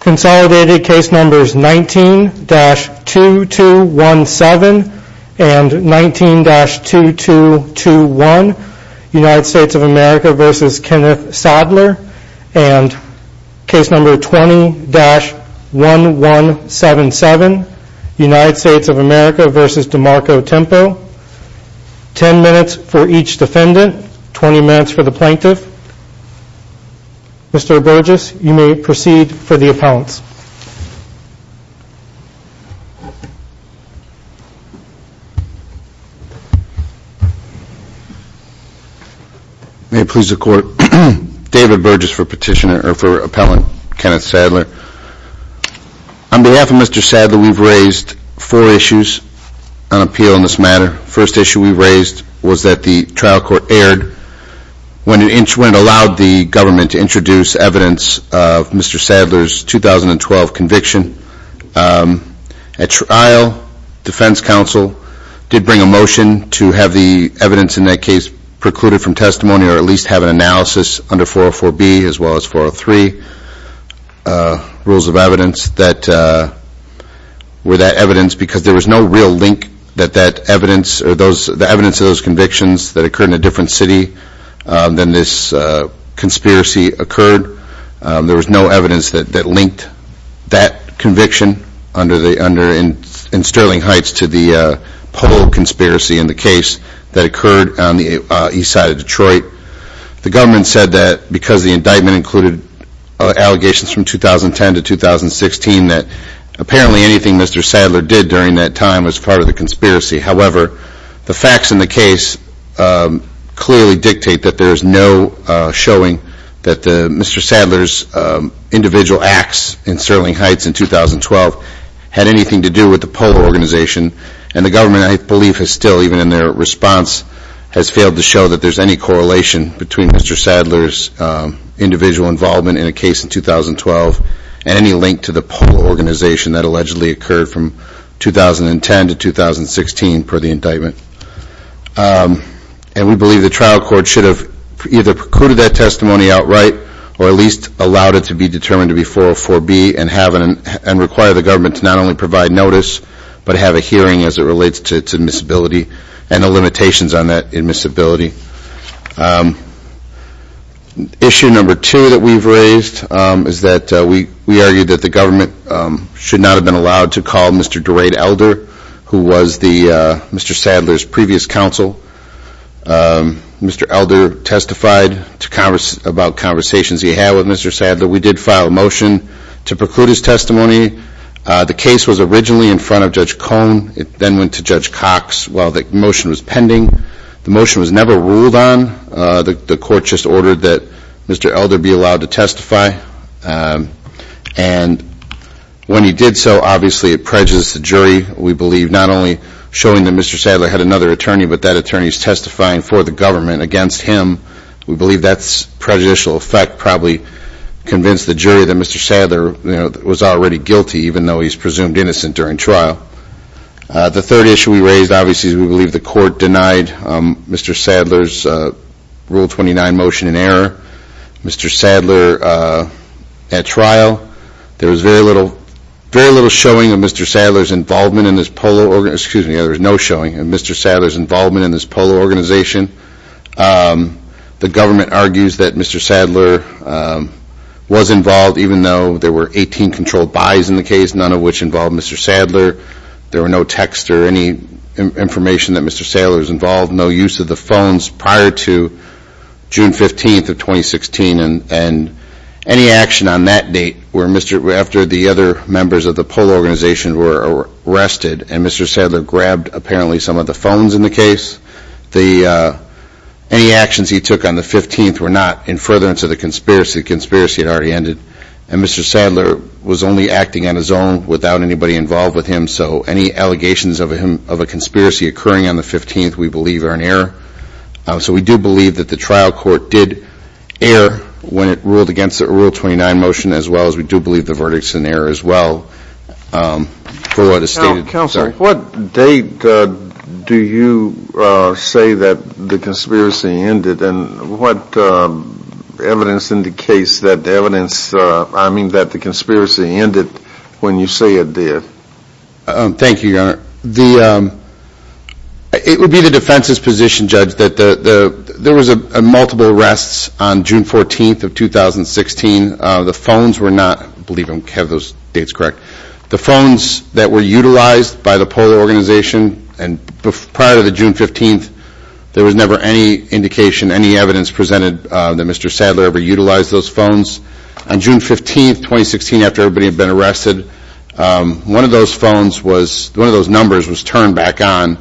Consolidated case numbers 19-2217 and 19-2221 United States of America v. Kenneth Sadler and case number 20-1177 United States of America v. DeMarco Tempo 10 minutes for each defendant, 20 minutes for the plaintiff Mr. Burgess, you may proceed for the appellants May it please the court David Burgess for petitioner, or for appellant, Kenneth Sadler On behalf of Mr. Sadler, we've raised four issues on appeal in this matter First issue we raised was that the trial court erred when it allowed the government to introduce evidence of Mr. Sadler's 2012 conviction At trial, defense counsel did bring a motion to have the evidence in that case precluded from testimony or at least have an analysis under 404B as well as 403 rules of evidence that were that evidence because there was no real link that that evidence or the evidence of those convictions that occurred in a different city than this conspiracy occurred There was no evidence that linked that conviction in Sterling Heights to the poll conspiracy in the case that occurred on the east side of Detroit The government said that because the indictment included allegations from 2010 to 2016 that apparently anything Mr. Sadler did during that time was part of the conspiracy However, the facts in the case clearly dictate that there is no showing that Mr. Sadler's individual acts in Sterling Heights in 2012 had anything to do with the poll organization and the government, I believe, has still, even in their response, has failed to show that there's any correlation between Mr. Sadler's individual involvement in a case in 2012 and any link to the poll organization that allegedly occurred from 2010 to 2016 per the indictment And we believe the trial court should have either precluded that testimony outright or at least allowed it to be determined to be 404B and require the government to not only provide notice but have a hearing as it relates to its admissibility and the limitations on that admissibility Issue number two that we've raised is that we argue that the government should not have been allowed to call Mr. DeRay Elder who was Mr. Sadler's previous counsel Mr. Elder testified about conversations he had with Mr. Sadler We did file a motion to preclude his testimony The case was originally in front of Judge Cohn It then went to Judge Cox while the motion was pending The motion was never ruled on The court just ordered that Mr. Elder be allowed to testify And when he did so, obviously it prejudiced the jury We believe not only showing that Mr. Sadler had another attorney but that attorney's testifying for the government against him We believe that prejudicial effect probably convinced the jury that Mr. Sadler was already guilty even though he's presumed innocent during trial The third issue we raised, obviously, is we believe the court denied Mr. Sadler's Rule 29 motion in error Mr. Sadler at trial There was very little showing of Mr. Sadler's involvement in this polo organization Excuse me, there was no showing of Mr. Sadler's involvement in this polo organization The government argues that Mr. Sadler was involved even though there were 18 controlled buys in the case None of which involved Mr. Sadler There were no texts or any information that Mr. Sadler was involved No use of the phones prior to June 15th of 2016 And any action on that date, after the other members of the polo organization were arrested and Mr. Sadler grabbed apparently some of the phones in the case Any actions he took on the 15th were not in furtherance of the conspiracy The conspiracy had already ended And Mr. Sadler was only acting on his own without anybody involved with him So any allegations of a conspiracy occurring on the 15th we believe are in error So we do believe that the trial court did err when it ruled against the Rule 29 motion as well as we do believe the verdict is in error as well Counselor, what date do you say that the conspiracy ended? And what evidence indicates that the conspiracy ended when you say it did? Thank you, Your Honor It would be the defense's position, Judge, that there were multiple arrests on June 14th of 2016 The phones were not, I believe I have those dates correct The phones that were utilized by the polo organization prior to June 15th There was never any indication, any evidence presented that Mr. Sadler ever utilized those phones On June 15th, 2016, after everybody had been arrested One of those phones, one of those numbers was turned back on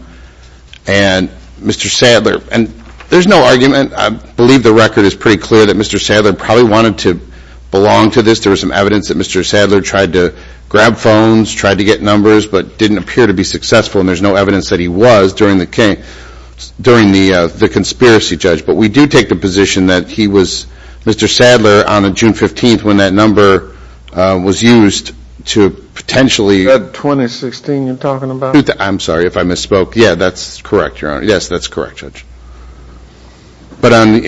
And Mr. Sadler, and there's no argument, I believe the record is pretty clear that Mr. Sadler probably wanted to belong to this There was some evidence that Mr. Sadler tried to grab phones, tried to get numbers but didn't appear to be successful and there's no evidence that he was during the conspiracy, Judge But we do take the position that he was, Mr. Sadler, on June 15th when that number was used to potentially That 2016 you're talking about? I'm sorry if I misspoke, yeah, that's correct, Your Honor, yes, that's correct, Judge But on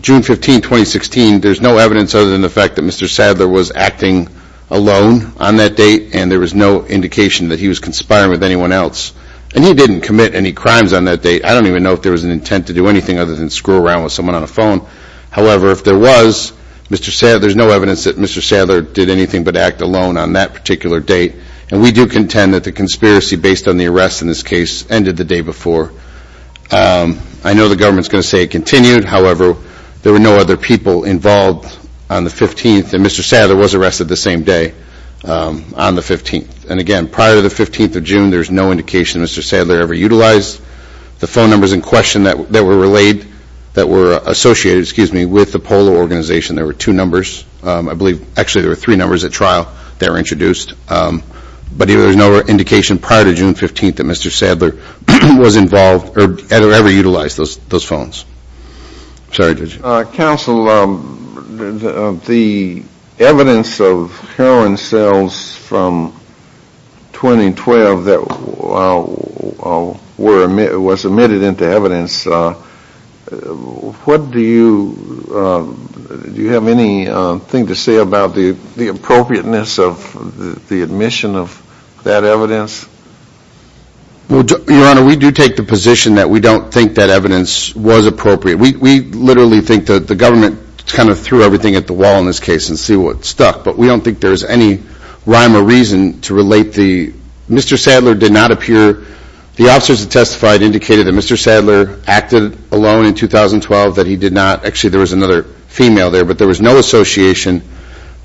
June 15th, 2016, there's no evidence other than the fact that Mr. Sadler was acting alone on that date And there was no indication that he was conspiring with anyone else And he didn't commit any crimes on that date I don't even know if there was an intent to do anything other than screw around with someone on a phone However, if there was, there's no evidence that Mr. Sadler did anything but act alone on that particular date And we do contend that the conspiracy based on the arrest in this case ended the day before I know the government's going to say it continued However, there were no other people involved on the 15th And Mr. Sadler was arrested the same day on the 15th And again, prior to the 15th of June, there's no indication that Mr. Sadler ever utilized the phone numbers in question That were related, that were associated, excuse me, with the Polo Organization There were two numbers, I believe, actually there were three numbers at trial that were introduced But there was no indication prior to June 15th that Mr. Sadler was involved or ever utilized those phones Sorry, Judge Counsel, the evidence of heroin sales from 2012 that was admitted into evidence What do you, do you have anything to say about the appropriateness of the admission of that evidence? Your Honor, we do take the position that we don't think that evidence was appropriate We literally think that the government kind of threw everything at the wall in this case and see what stuck But we don't think there's any rhyme or reason to relate the, Mr. Sadler did not appear The officers that testified indicated that Mr. Sadler acted alone in 2012 That he did not, actually there was another female there But there was no association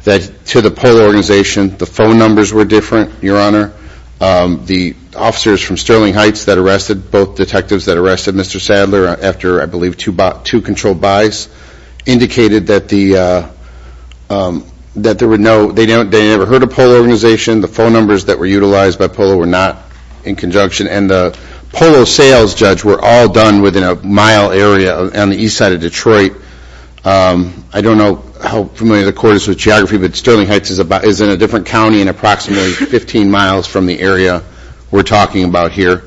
that to the Polo Organization The phone numbers were different, Your Honor The officers from Sterling Heights that arrested both detectives that arrested Mr. Sadler After, I believe, two controlled buys Indicated that there were no, they never heard of Polo Organization The phone numbers that were utilized by Polo were not in conjunction And the Polo sales, Judge, were all done within a mile area on the east side of Detroit I don't know how familiar the court is with geography But Sterling Heights is in a different county and approximately 15 miles from the area we're talking about here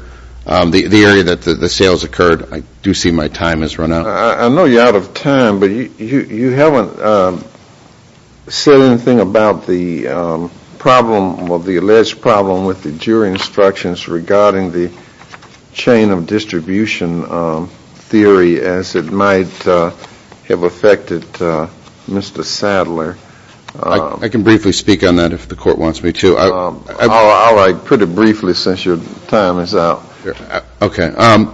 The area that the sales occurred, I do see my time has run out I know you're out of time, but you haven't said anything about the problem Well, the alleged problem with the jury instructions regarding the chain of distribution theory As it might have affected Mr. Sadler I can briefly speak on that if the court wants me to I'll put it briefly since your time is out Our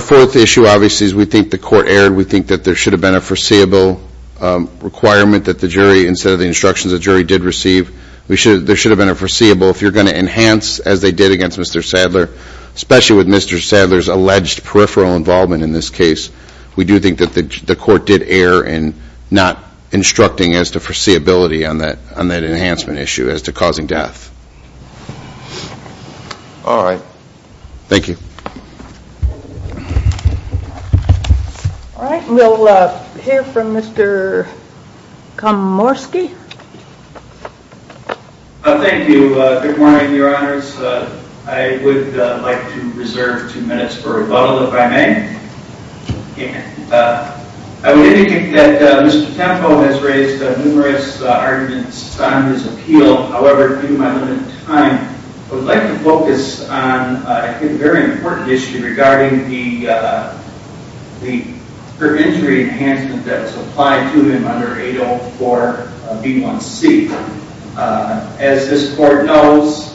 fourth issue, obviously, is we think the court erred We think that there should have been a foreseeable requirement That the jury, instead of the instructions the jury did receive There should have been a foreseeable If you're going to enhance as they did against Mr. Sadler Especially with Mr. Sadler's alleged peripheral involvement in this case We do think that the court did err in not instructing as to foreseeability On that enhancement issue as to causing death Alright, thank you Alright, we'll hear from Mr. Komorski Thank you, good morning your honors I would like to reserve two minutes for rebuttal if I may I would indicate that Mr. Tempo has raised numerous arguments on his appeal However, due to my limited time I would like to focus on a very important issue Regarding the perpendicular enhancement that was applied to him under 804B1C As this court knows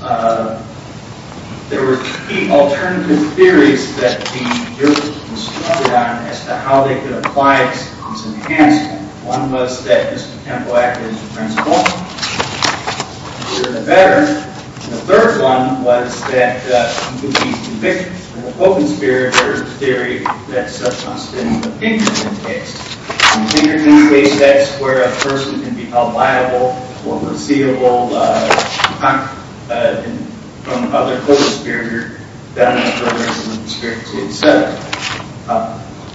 There were three alternative theories that the jurors were instructed on As to how they could apply this enhancement One was that Mr. Tempo acted as a principal The better The third one was that he would be convicted In the Hogan sphere, there is a theory that's such on standing opinion in this case Where a person can be held liable for foreseeable From other Hogan spheres than the Hogan sphere itself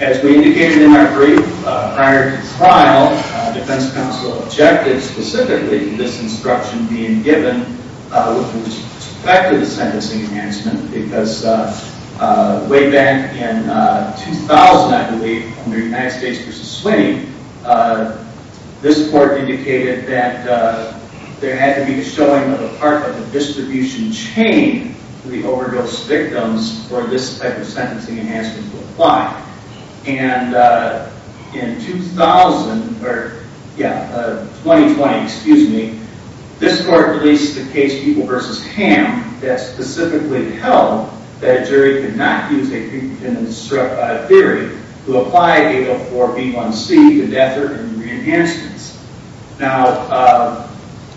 As we indicated in our brief prior to the trial Defense counsel objected specifically to this instruction being given With respect to the sentencing enhancement Way back in 2000 I believe Under United States v. Sweeney This court indicated that there had to be a showing of a part of the distribution chain For the overdose victims for this type of sentencing enhancement to apply In 2020 This court released the case People v. Ham That specifically held that a jury could not use a theory To apply 804B1C to death or any re-enhancements Now,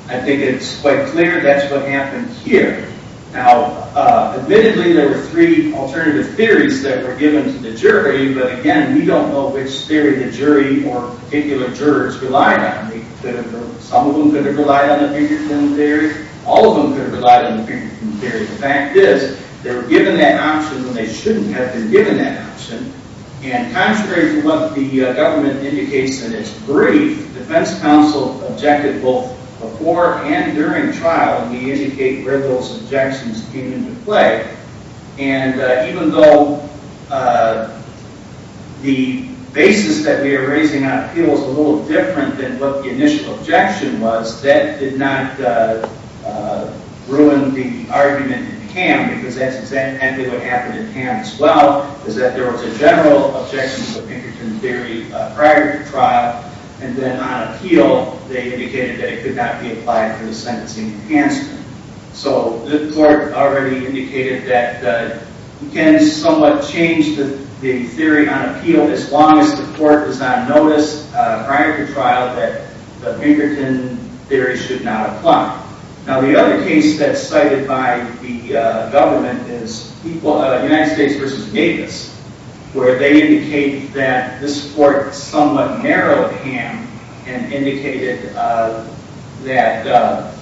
I think it's quite clear that's what happened here Now, admittedly there were three alternative theories that were given to the jury But again, we don't know which theory the jury or particular jurors relied on Some of them could have relied on the Pinkerton theory All of them could have relied on the Pinkerton theory The fact is they were given that option when they shouldn't have been given that option And contrary to what the government indicates in its brief Defense counsel objected both before and during trial And we indicate where those objections came into play And even though the basis that we are raising on appeals Was a little different than what the initial objection was That did not ruin the argument in Ham Because that's exactly what happened in Ham as well Is that there was a general objection to the Pinkerton theory prior to trial And then on appeal they indicated that it could not be applied for the sentencing enhancement So the court already indicated that you can somewhat change the theory on appeal As long as the court was on notice prior to trial that the Pinkerton theory should not apply Now the other case that's cited by the government is United States v. Davis Where they indicate that this court somewhat narrowed Ham And indicated that the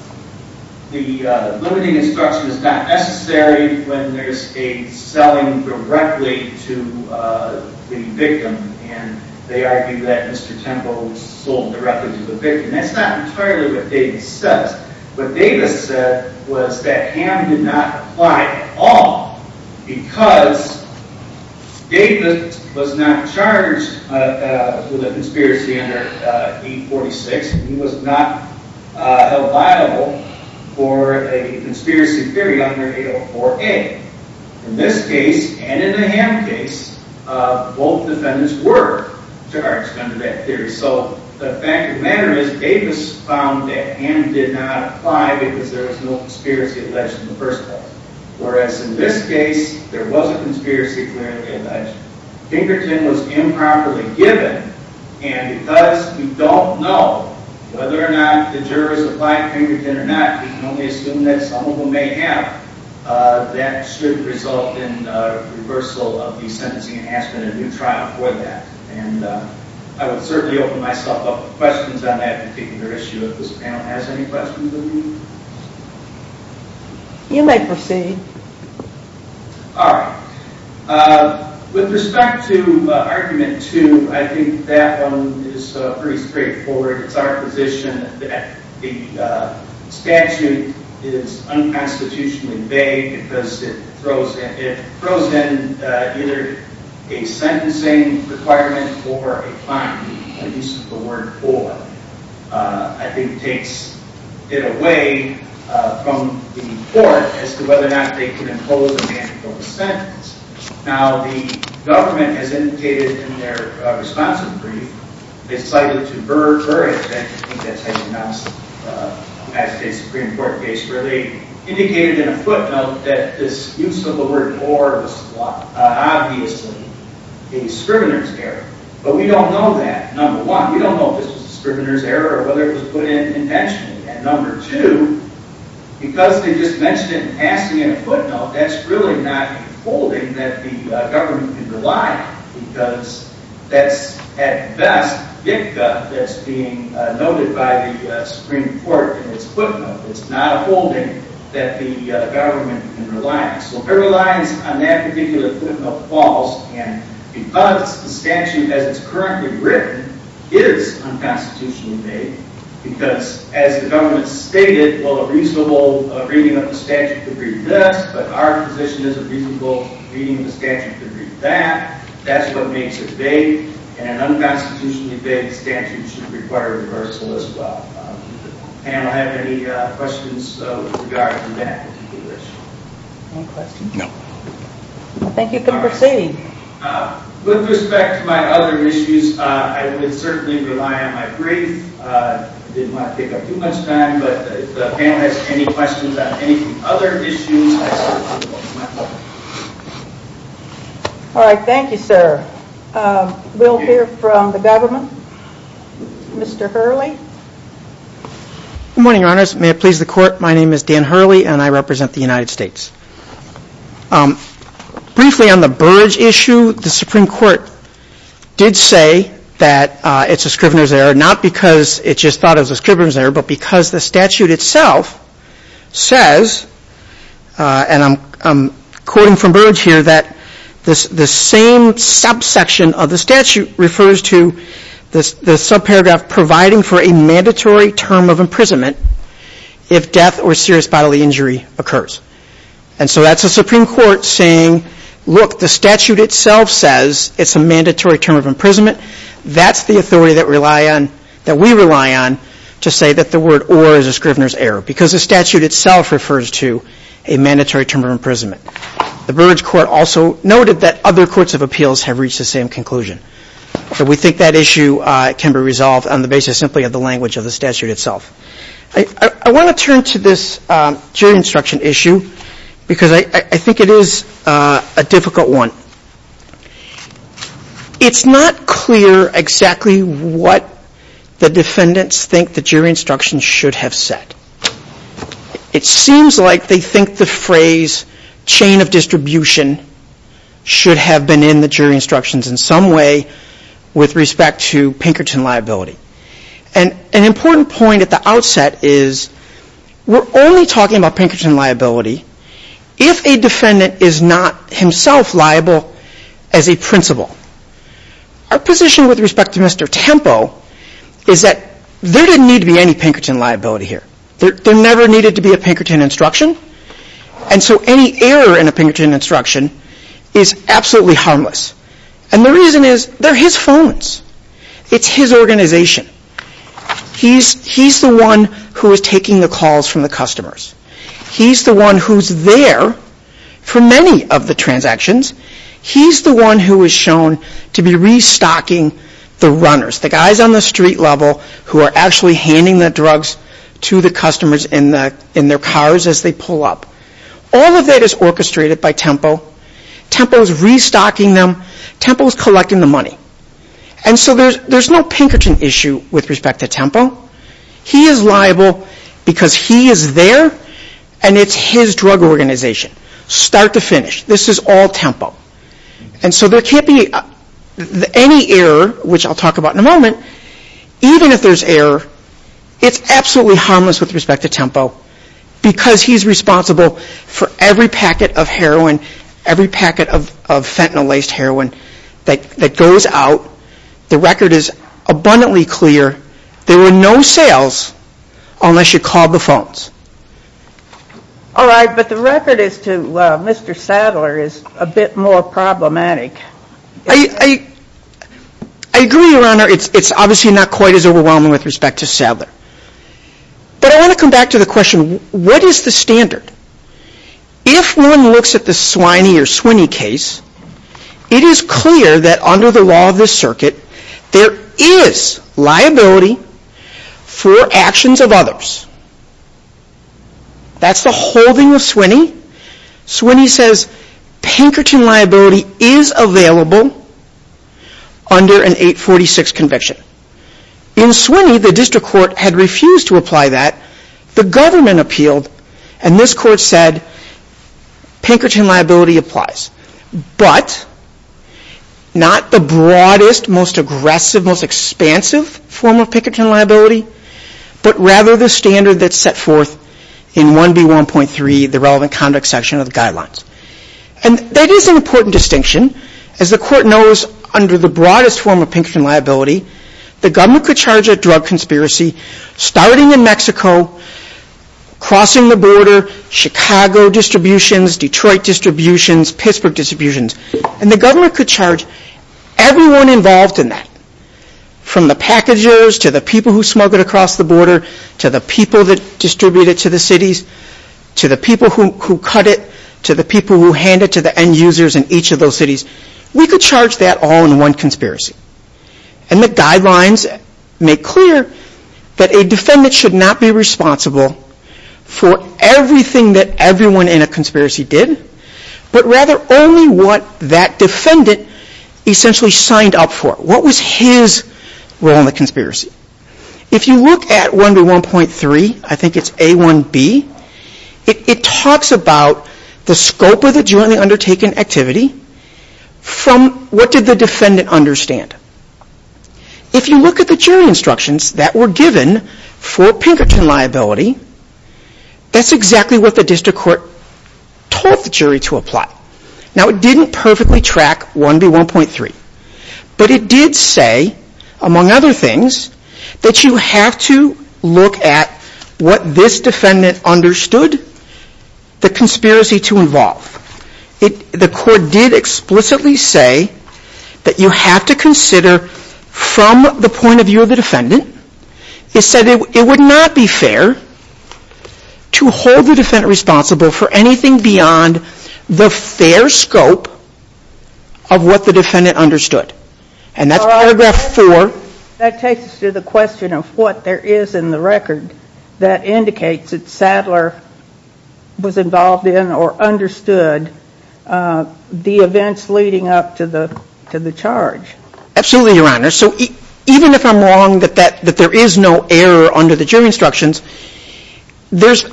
limiting instruction is not necessary When there's a selling directly to the victim And they argue that Mr. Temple was sold directly to the victim That's not entirely what Davis says What Davis said was that Ham did not apply at all Because Davis was not charged with a conspiracy under 846 And he was not held liable for a conspiracy theory under 804A In this case and in the Ham case both defendants were charged under that theory So the fact of the matter is Davis found that Ham did not apply Because there was no conspiracy alleged in the first place Whereas in this case there was a conspiracy clearly alleged Pinkerton was improperly given And because we don't know whether or not the jurors applied Pinkerton or not We can only assume that some of them may have That should result in reversal of the sentencing enhancement in a new trial for that And I would certainly open myself up for questions on that particular issue If this panel has any questions of me You may proceed Alright With respect to argument 2 I think that one is pretty straightforward It's our position that the statute is unconstitutionally vague Because it throws in either a sentencing requirement or a fine The use of the word for I think takes it away from the court As to whether or not they can impose a mandatory sentence Now the government has indicated in their responsive brief They cited to Burr, I think that's how you pronounce the United States Supreme Court case Where they indicated in a footnote that this use of the word for was obviously a scrivener's error But we don't know that Number one, we don't know if this was a scrivener's error or whether it was put in intentionally And number two, because they just mentioned it and passed it in a footnote That's really not a holding that the government can rely on Because that's at best Vicka that's being noted by the Supreme Court in its footnote It's not a holding that the government can rely on So Burr relies on that particular footnote clause And because the statute as it's currently written is unconstitutionally vague Because as the government stated, well a reasonable reading of the statute could be this But our position is a reasonable reading of the statute could be that That's what makes it vague And an unconstitutionally vague statute should require reversal as well Does the panel have any questions with regard to that particular issue? Any questions? No I think you can proceed With respect to my other issues, I would certainly rely on my brief I didn't want to take up too much time But if the panel has any questions on any of the other issues All right, thank you sir We'll hear from the government Mr. Hurley Good morning, Your Honors May it please the Court My name is Dan Hurley and I represent the United States Briefly on the Burridge issue, the Supreme Court did say that it's a Scrivener's error Not because it just thought it was a Scrivener's error But because the statute itself says And I'm quoting from Burridge here That the same subsection of the statute refers to the subparagraph Providing for a mandatory term of imprisonment If death or serious bodily injury occurs And so that's the Supreme Court saying Look, the statute itself says it's a mandatory term of imprisonment That's the authority that we rely on To say that the word or is a Scrivener's error Because the statute itself refers to a mandatory term of imprisonment The Burridge Court also noted that other courts of appeals have reached the same conclusion So we think that issue can be resolved on the basis simply of the language of the statute itself I want to turn to this jury instruction issue Because I think it is a difficult one It's not clear exactly what the defendants think the jury instructions should have said It seems like they think the phrase chain of distribution Should have been in the jury instructions in some way With respect to Pinkerton liability And an important point at the outset is We're only talking about Pinkerton liability If a defendant is not himself liable as a principal Our position with respect to Mr. Tempo Is that there didn't need to be any Pinkerton liability here There never needed to be a Pinkerton instruction And so any error in a Pinkerton instruction is absolutely harmless And the reason is they're his phones It's his organization He's the one who is taking the calls from the customers He's the one who's there for many of the transactions He's the one who is shown to be restocking the runners The guys on the street level who are actually handing the drugs To the customers in their cars as they pull up All of that is orchestrated by Tempo Tempo is restocking them Tempo is collecting the money And so there's no Pinkerton issue with respect to Tempo He is liable because he is there And it's his drug organization Start to finish This is all Tempo And so there can't be any error Which I'll talk about in a moment Even if there's error It's absolutely harmless with respect to Tempo Because he's responsible for every packet of heroin Every packet of fentanyl laced heroin That goes out The record is abundantly clear There were no sales Unless you called the phones Alright but the record is to Mr. Sadler Is a bit more problematic I agree your honor It's obviously not quite as overwhelming with respect to Sadler But I want to come back to the question What is the standard? If one looks at the Swiney or Swinney case It is clear that under the law of the circuit There is liability For actions of others That's the holding of Swinney Swinney says Pinkerton liability is available Under an 846 conviction In Swinney the district court had refused to apply that The government appealed And this court said Pinkerton liability applies But not the broadest Most aggressive, most expansive Form of Pinkerton liability But rather the standard that's set forth In 1B1.3 The relevant conduct section of the guidelines And that is an important distinction As the court knows Under the broadest form of Pinkerton liability The government could charge a drug conspiracy Starting in Mexico Crossing the border Chicago distributions Detroit distributions Pittsburgh distributions And the government could charge everyone involved in that From the packagers To the people who smuggled across the border To the people who distributed to the cities To the people who cut it To the people who handed it to the end users In each of those cities We could charge that all in one conspiracy And the guidelines Make clear That a defendant should not be responsible For everything That everyone in a conspiracy did But rather only what That defendant essentially Signed up for What was his role in the conspiracy If you look at 1B1.3 I think it's A1B It talks about The scope of the jointly undertaken Activity From what did the defendant understand If you look at the Jury instructions that were given For Pinkerton liability That's exactly what the District court told the jury To apply Now it didn't perfectly track 1B1.3 But it did say Among other things That you have to look at What this defendant Understood The conspiracy to involve The court did explicitly say That you have to consider From the point of view Of the defendant It said It would not be fair To hold the defendant responsible For anything beyond The fair scope Of what the defendant understood And that's paragraph 4 That takes us to the question of What there is in the record That indicates that Sadler Was involved in Or understood The events leading up to the Charge Absolutely your honor Even if I'm wrong that there is no Error under the jury instructions There's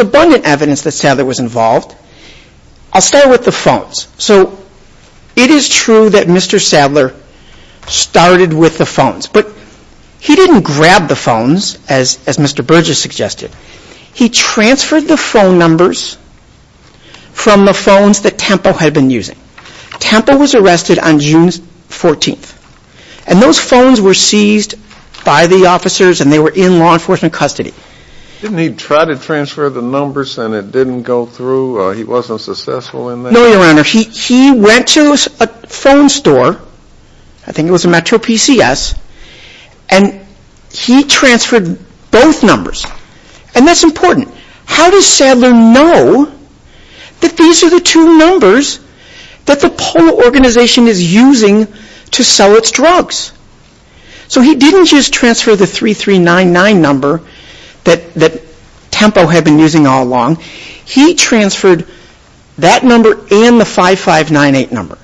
abundant Evidence that Sadler was involved I'll start with the phones So it is true that Mr. Sadler Started with the phones But he didn't grab the phones As Mr. Burgess suggested He transferred the phone numbers From the phones That Tempo had been using Tempo was arrested on June 14th And those phones were seized By the officers and they were in law enforcement Custody Didn't he try to transfer the numbers and it didn't go through He wasn't successful in that No your honor He went to a phone store I think it was a Metro PCS And he transferred Both numbers And that's important How does Sadler know That these are the two Numbers that the Organization is using To sell its drugs So he didn't just transfer the 3399 number That Tempo had been using all along He transferred That number and the 5598 number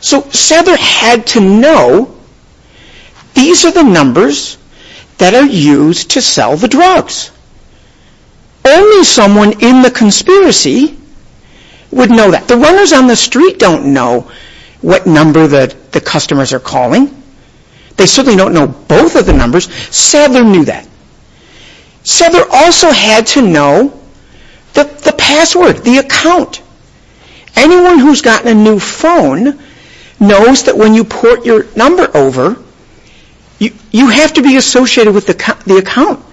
So Sadler had to know These are the numbers That are used to sell The drugs Only someone In the conspiracy Would know that The runners on the street don't know What number the customers are calling They certainly don't know Both of the numbers Sadler knew that Sadler also had to know The password, the account Anyone who's gotten a new phone Knows that when you Port your number over You have to be associated With the account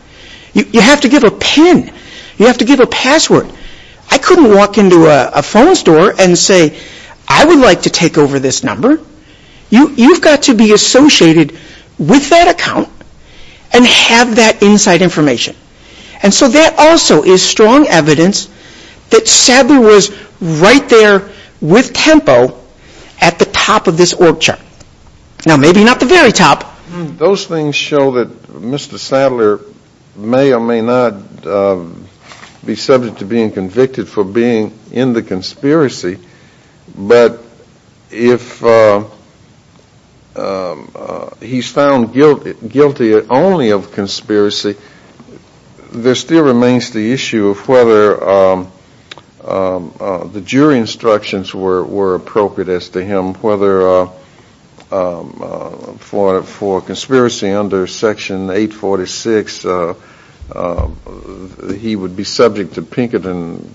You have to give a pin You have to give a password I couldn't walk into a phone store And say I would like to take over this number You've got to be Associated with that account And have that Inside information And so that also is strong evidence That Sadler was Right there with Tempo At the top of this org chart Now maybe not the very top Those things show that Mr. Sadler May or may not Be subject to being convicted For being in the conspiracy But if He's found guilty Only of conspiracy There still remains The issue of whether The jury Instructions were appropriate As to him Whether For conspiracy Under section 846 He would be subject to Pinkerton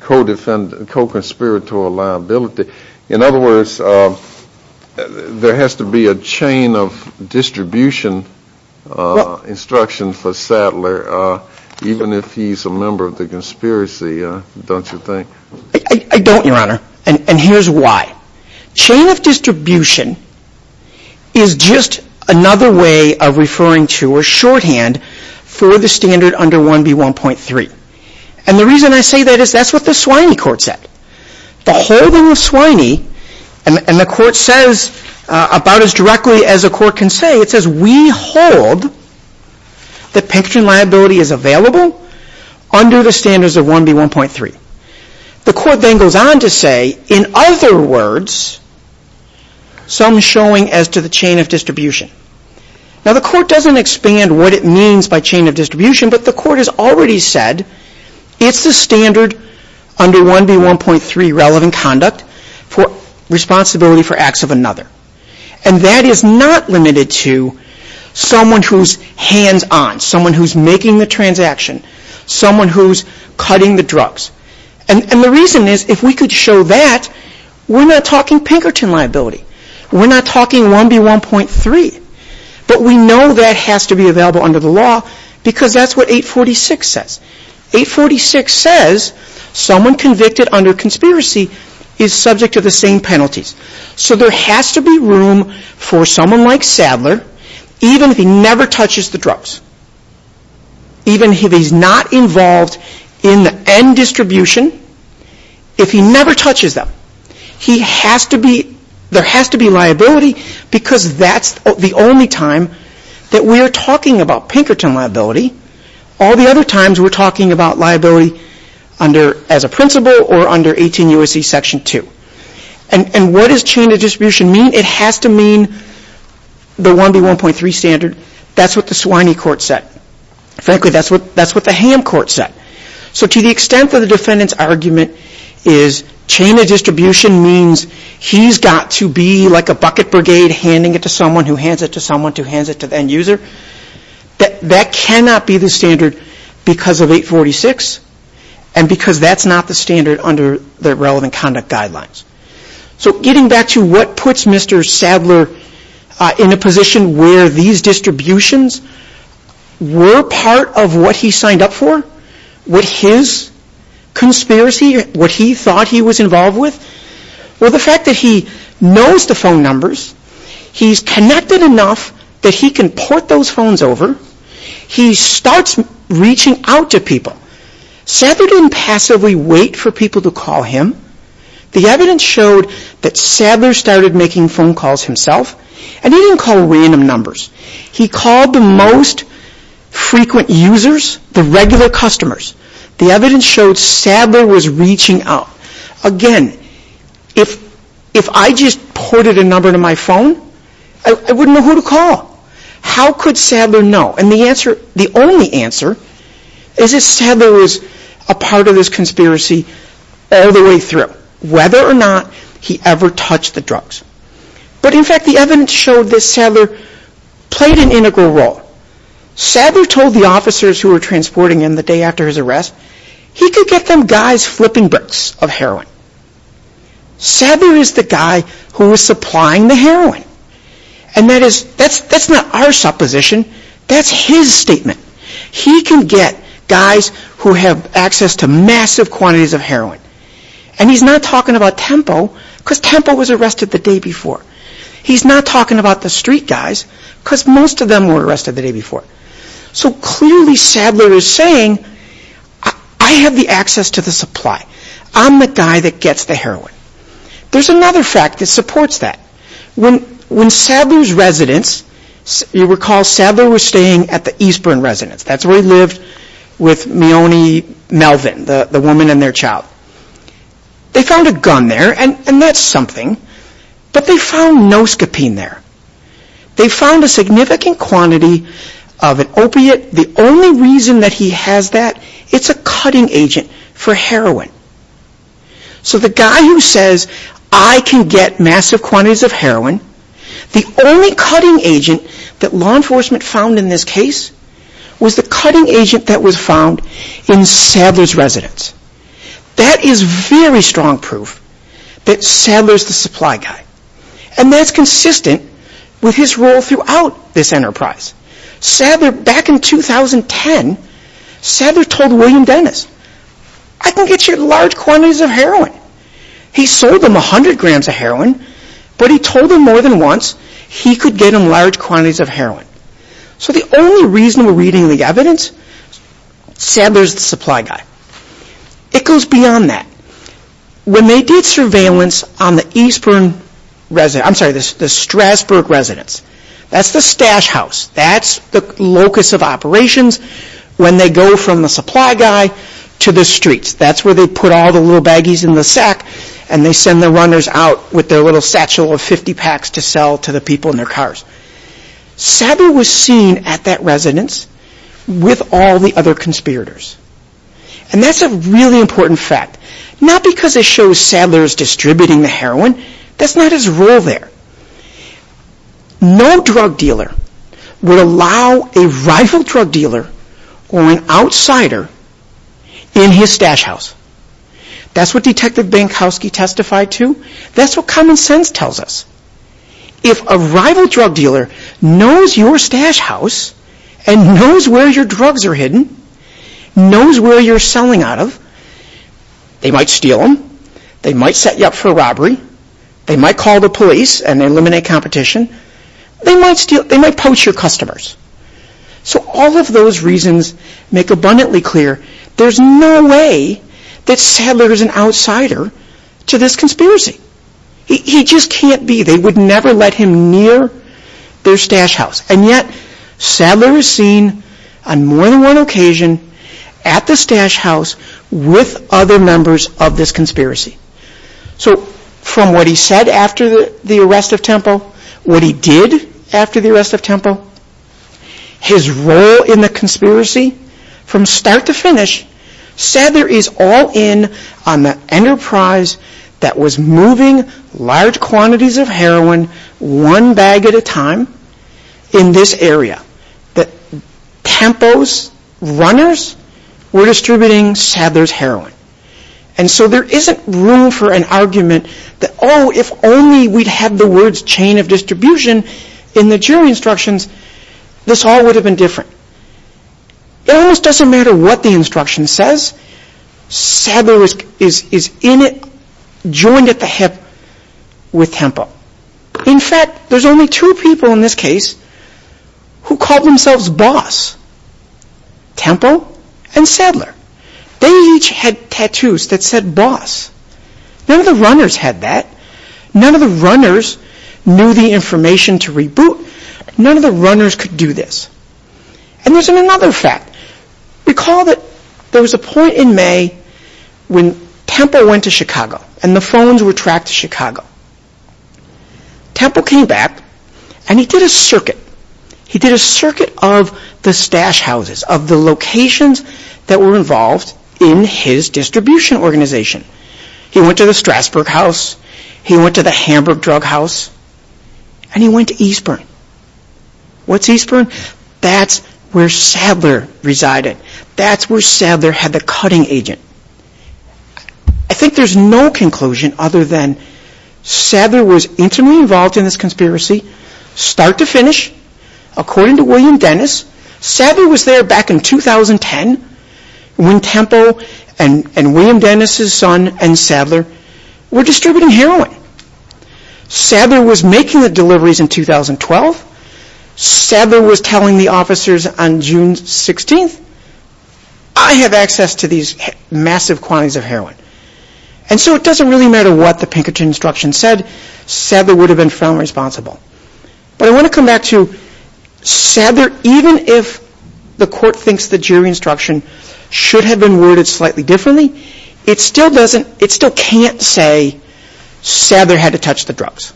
Co-conspiratorial liability In other words There has to be a chain Of distribution Instructions For Sadler Even if he's a member of the conspiracy Don't you think I don't your honor And here's why Chain of distribution Is just another way Of referring to or shorthand For the standard under 1B1.3 And the reason I say that Is that's what the Swiney court said The holding of Swiney And the court says About as directly as a court can say It says we hold That Pinkerton liability Is available Under the standards of 1B1.3 The court then goes on to say In other words Some showing as to the chain of distribution Now the court doesn't Expand what it means by chain of distribution But the court has already said It's the standard Under 1B1.3 relevant conduct For responsibility For acts of another And that is not limited to Someone who's hands on Someone who's making the transaction Someone who's cutting the drugs And the reason is If we could show that We're not talking Pinkerton liability We're not talking 1B1.3 But we know that has to be Available under the law Because that's what 846 says 846 says Someone convicted under conspiracy Is subject to the same penalties So there has to be room For someone like Sadler Even if he never touches the drugs Even if he's not involved In the end distribution If he never touches them He has to be There has to be liability Because that's the only time That we're talking about Pinkerton liability All the other times We're talking about liability As a principle or under 18 U.S.C. Section 2 And what does chain of distribution mean? It has to mean The 1B1.3 standard That's what the Swiney Court said Frankly that's what the Ham Court said So to the extent of the defendant's argument Is chain of distribution Means he's got to be Like a bucket brigade Handing it to someone who hands it to someone Who hands it to the end user That cannot be the standard Because of 846 And because that's not the standard Under the relevant conduct guidelines So getting back to what puts Mr. Sadler In a position where these distributions Were part of What he signed up for What his Conspiracy, what he thought he was involved with Well the fact that he Knows the phone numbers He's connected enough That he can port those phones over He starts reaching Out to people Sadler didn't passively wait for people to call him The evidence showed That Sadler started making phone calls Himself and he didn't call random Numbers. He called the most Frequent users The regular customers The evidence showed Sadler was reaching Out. Again If I just Ported a number to my phone I wouldn't know who to call How could Sadler know? And the only answer Is that Sadler was a part of this Whether or not he ever Touched the drugs But in fact the evidence showed that Sadler Played an integral role Sadler told the officers who were Transporting him the day after his arrest He could get them guys flipping Bricks of heroin Sadler is the guy who Was supplying the heroin And that's not our supposition That's his statement He can get guys Who have access to massive Quantities of heroin And he's not talking about Tempo Because Tempo was arrested the day before He's not talking about the street guys Because most of them were arrested the day before So clearly Sadler Is saying I have the access to the supply I'm the guy that gets the heroin There's another fact that supports that When Sadler's Residence You recall Sadler was staying at the Eastburn residence That's where he lived With Mione Melvin The woman and their child They found a gun there And that's something But they found no scopine there They found a significant quantity Of an opiate The only reason that he has that It's a cutting agent For heroin So the guy who says I can get massive quantities of heroin The only cutting agent That law enforcement found in this case Was the cutting agent That was found in Sadler's residence That is very Strong proof That Sadler's the supply guy And that's consistent With his role throughout this enterprise Sadler, back in 2010 Sadler told William Dennis I can get you large quantities of heroin He sold him 100 grams of heroin But he told him more than once He could get him large quantities of heroin So the only reason We're reading the evidence Sadler's the supply guy It goes beyond that When they did surveillance On the Eastburn I'm sorry, the Strasburg residence That's the stash house That's the locus of operations When they go from the supply guy To the streets That's where they put all the little baggies in the sack And they send the runners out With their little satchel of 50 packs To sell to the people in their cars Sadler was seen At that residence With all the other conspirators And that's a really important fact Not because it shows Sadler's Distributing the heroin That's not his role there No drug dealer Would allow a rival drug dealer Or an outsider In his stash house That's what Detective Bankowski testified to That's what common sense tells us If a rival drug dealer Knows your stash house And knows where your drugs Are hidden Knows where you're selling out of They might steal them They might set you up for robbery They might call the police And eliminate competition So all of those reasons Make abundantly clear There's no way that Sadler Is an outsider to this conspiracy He just can't be They would never let him near Their stash house And yet Sadler is seen On more than one occasion At the stash house With other members of this conspiracy So from what he said After the arrest of Temple What he did After the arrest of Temple His role in the conspiracy From start to finish Sadler is all in On the enterprise That was moving large quantities Of heroin One bag at a time In this area That Temple's runners Were distributing Sadler's heroin And so there isn't Room for an argument That if only we had the words Chain of distribution In the jury instructions This all would have been different It almost doesn't matter What the instruction says Sadler is in it Joined at the hip With Temple In fact there's only two people In this case Who call themselves boss Temple and Sadler They each had tattoos That said boss None of the runners had that None of the runners knew the information To reboot None of the runners could do this And there's another fact Recall that There was a point in May When Temple went to Chicago And the phones were tracked to Chicago Temple came back And he did a circuit He did a circuit of the stash houses Of the locations That were involved In his distribution organization He went to the Strasburg house He went to the Hamburg drug house And he went to Eastburn What's Eastburn? That's where Sadler resided That's where Sadler Had the cutting agent I think there's no conclusion Other than Sadler was intimately involved in this conspiracy Start to finish According to William Dennis Sadler was there back in 2010 When Temple And William Dennis' son And Sadler Were distributing heroin Sadler was making the deliveries In 2012 Sadler was telling the officers On June 16th I have access to these Massive quantities of heroin And so it doesn't really matter What the Pinkerton instruction said Sadler would have been found responsible But I want to come back to Sadler, even if The court thinks the jury instruction Should have been worded slightly differently It still can't say Sadler had to touch the drugs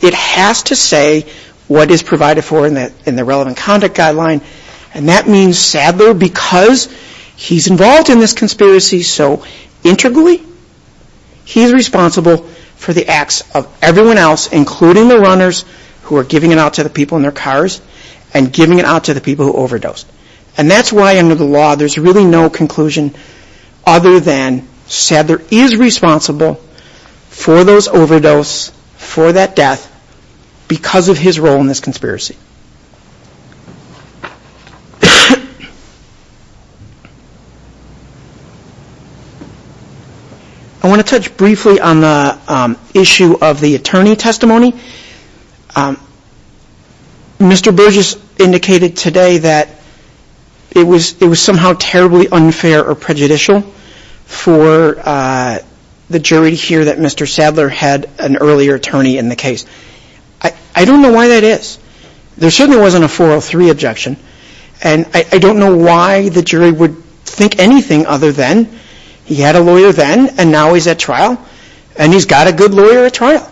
It has to say What is provided for In the relevant conduct guideline And that means Sadler Because he's involved in this conspiracy So integrally He's responsible For the acts of everyone else Including the runners Who are giving it out to the people in their cars And giving it out to the people who overdosed And that's why under the law There's really no conclusion Other than Sadler is Responsible for those Overdose, for that death Because of his role in this Conspiracy I want to touch briefly On the issue of the Attorney testimony Mr. Burgess Indicated today that It was somehow Terribly unfair or prejudicial For The jury to hear that Mr. Sadler Had an earlier attorney in the case I don't know why that is There certainly wasn't a 403 objection And I don't know Why the jury would think anything Other than he had a lawyer Then and now he's at trial And he's got a good lawyer at trial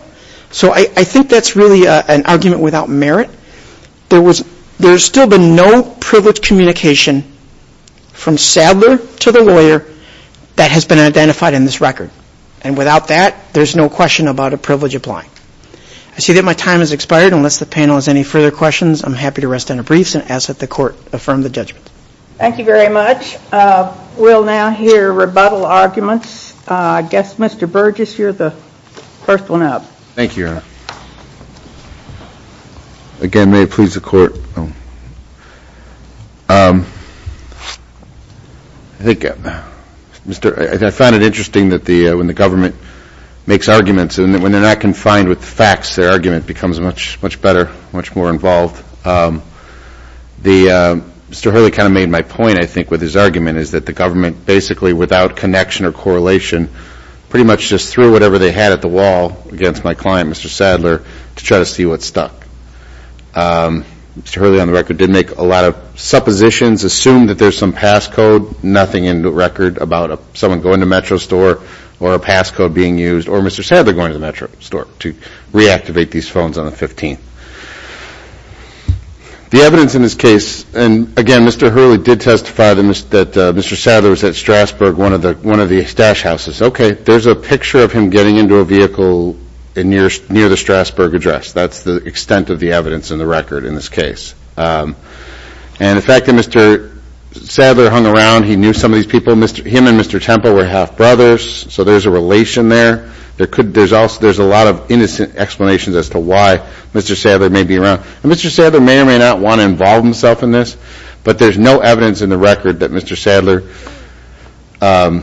So I think that's really An argument without merit There's still been no Privilege communication From Sadler to the lawyer That has been identified in this record And without that There's no question about a privilege applying I see that my time has expired Unless the panel has any further questions I'm happy to rest on a brief and ask that the court Affirm the judgment Thank you very much We'll now hear rebuttal arguments I guess Mr. Burgess, you're the First one up Thank you Again, may it please the court I think I found it interesting that When the government makes arguments And when they're not confined with facts Their argument becomes much better Much more involved Mr. Hurley kind of Made my point I think with his argument Is that the government basically without connection Or correlation pretty much just Threw whatever they had at the wall Against my client Mr. Sadler To try to see what stuck Mr. Hurley on the record did make a lot of Suppositions, assumed that there's some Passcode, nothing in the record About someone going to Metro store Or a passcode being used Or Mr. Sadler going to the Metro store To reactivate these phones on the 15th The evidence in this case And again Mr. Hurley did testify That Mr. Sadler was at Strasburg One of the stash houses There's a picture of him getting into a vehicle Near the Strasburg address That's the extent of the evidence In the record in this case And the fact that Mr. Sadler Hung around, he knew some of these people Him and Mr. Temple were half brothers So there's a relation there There's a lot of innocent Explanations as to why Mr. Sadler may be around Mr. Sadler may or may not want to involve himself in this But there's no evidence in the record That Mr. Sadler That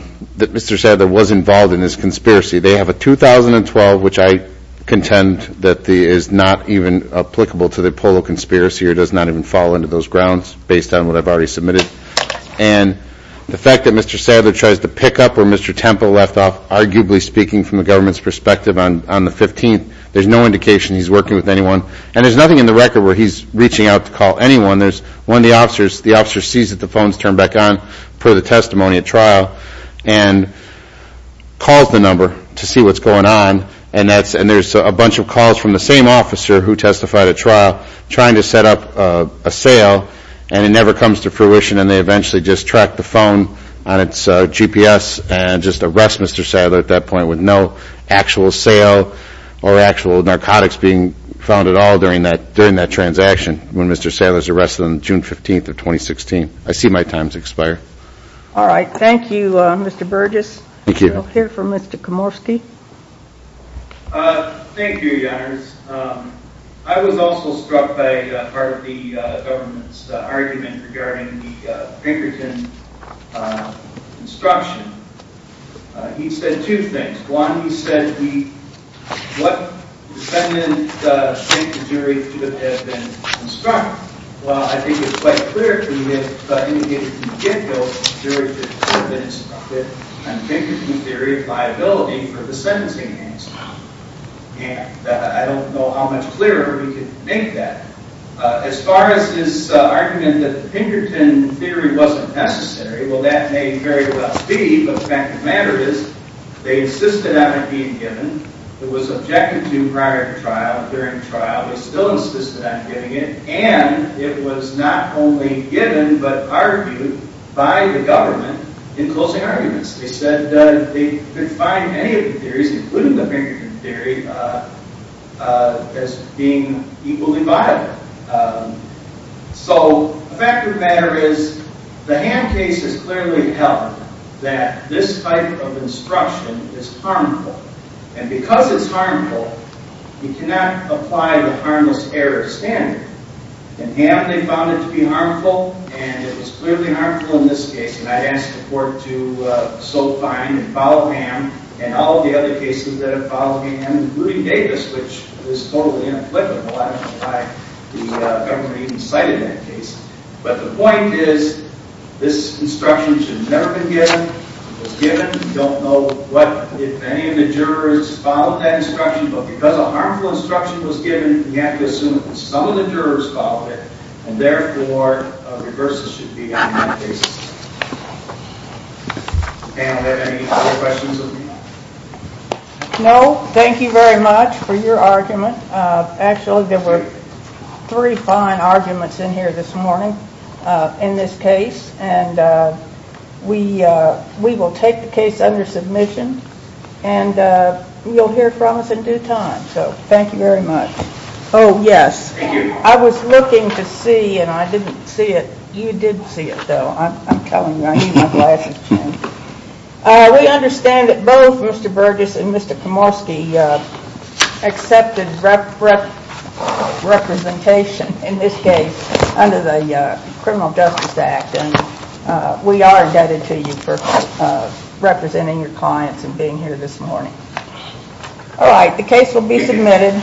Mr. Sadler was involved In this conspiracy. They have a 2012 Which I contend That is not even applicable To the Apollo conspiracy or does not even Fall into those grounds based on what I've already submitted And The fact that Mr. Sadler tries to pick up Where Mr. Temple left off, arguably speaking From the government's perspective on the 15th There's no indication he's working with anyone And there's nothing in the record where he's Reaching out to call anyone There's one of the officers The officer sees that the phone's turned back on Per the testimony at trial And calls the number To see what's going on And there's a bunch of calls from the same officer Who testified at trial Trying to set up a sale And it never comes to fruition And they eventually just track the phone On its GPS and just arrest Mr. Sadler At that point with no actual sale Or actual narcotics Being found at all during that Transaction when Mr. Sadler's arrested On June 15th of 2016 I see my time's expired Alright, thank you Mr. Burgess We'll hear from Mr. Komorski Thank you Your Honor I was also struck by Part of the government's argument Regarding the Pinkerton Instruction He said two things One, he said What defendant Do you think the jury Should have been instructed Well I think it's quite clear to me That in the case of Giffield The jury should have been instructed On Pinkerton theory of liability For the sentencing And I don't know how much clearer We can make that As far as his argument That the Pinkerton theory wasn't necessary Well that may very well be But the fact of the matter is They insisted on it being given It was objected to prior to trial During trial They still insisted on giving it And it was not only given But argued by the government In closing arguments They said they could find any of the theories Including the Pinkerton theory As being Equally viable So The fact of the matter is The Hamm case has clearly held That this type of instruction Is harmful And because it's harmful We cannot apply the harmless error standard In Hamm they found it to be harmful And it was clearly harmful In this case And I asked the court to So find and follow Hamm And all of the other cases that have followed Hamm Including Davis Which was totally inapplicable I don't know why the government even cited that case But the point is This instruction should have never been given We don't know If any of the jurors Followed that instruction But because a harmful instruction was given We have to assume that some of the jurors followed it And therefore Reverses should be done in that case Any other questions? No, thank you very much For your argument Actually there were Three fine arguments in here this morning In this case And We will take the case under submission And You'll hear from us in due time So thank you very much Oh yes, I was looking to see And I didn't see it You did see it though I'm telling you, I need my glasses We understand that both Mr. Burgess and Mr. Komorski Accepted Representation In this case Under the Criminal Justice Act And We are indebted to you for Representing your clients and being here this morning Alright The case will be submitted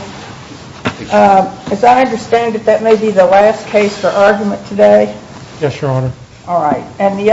As I understand it That may be the last case for argument today Yes, your honor Alright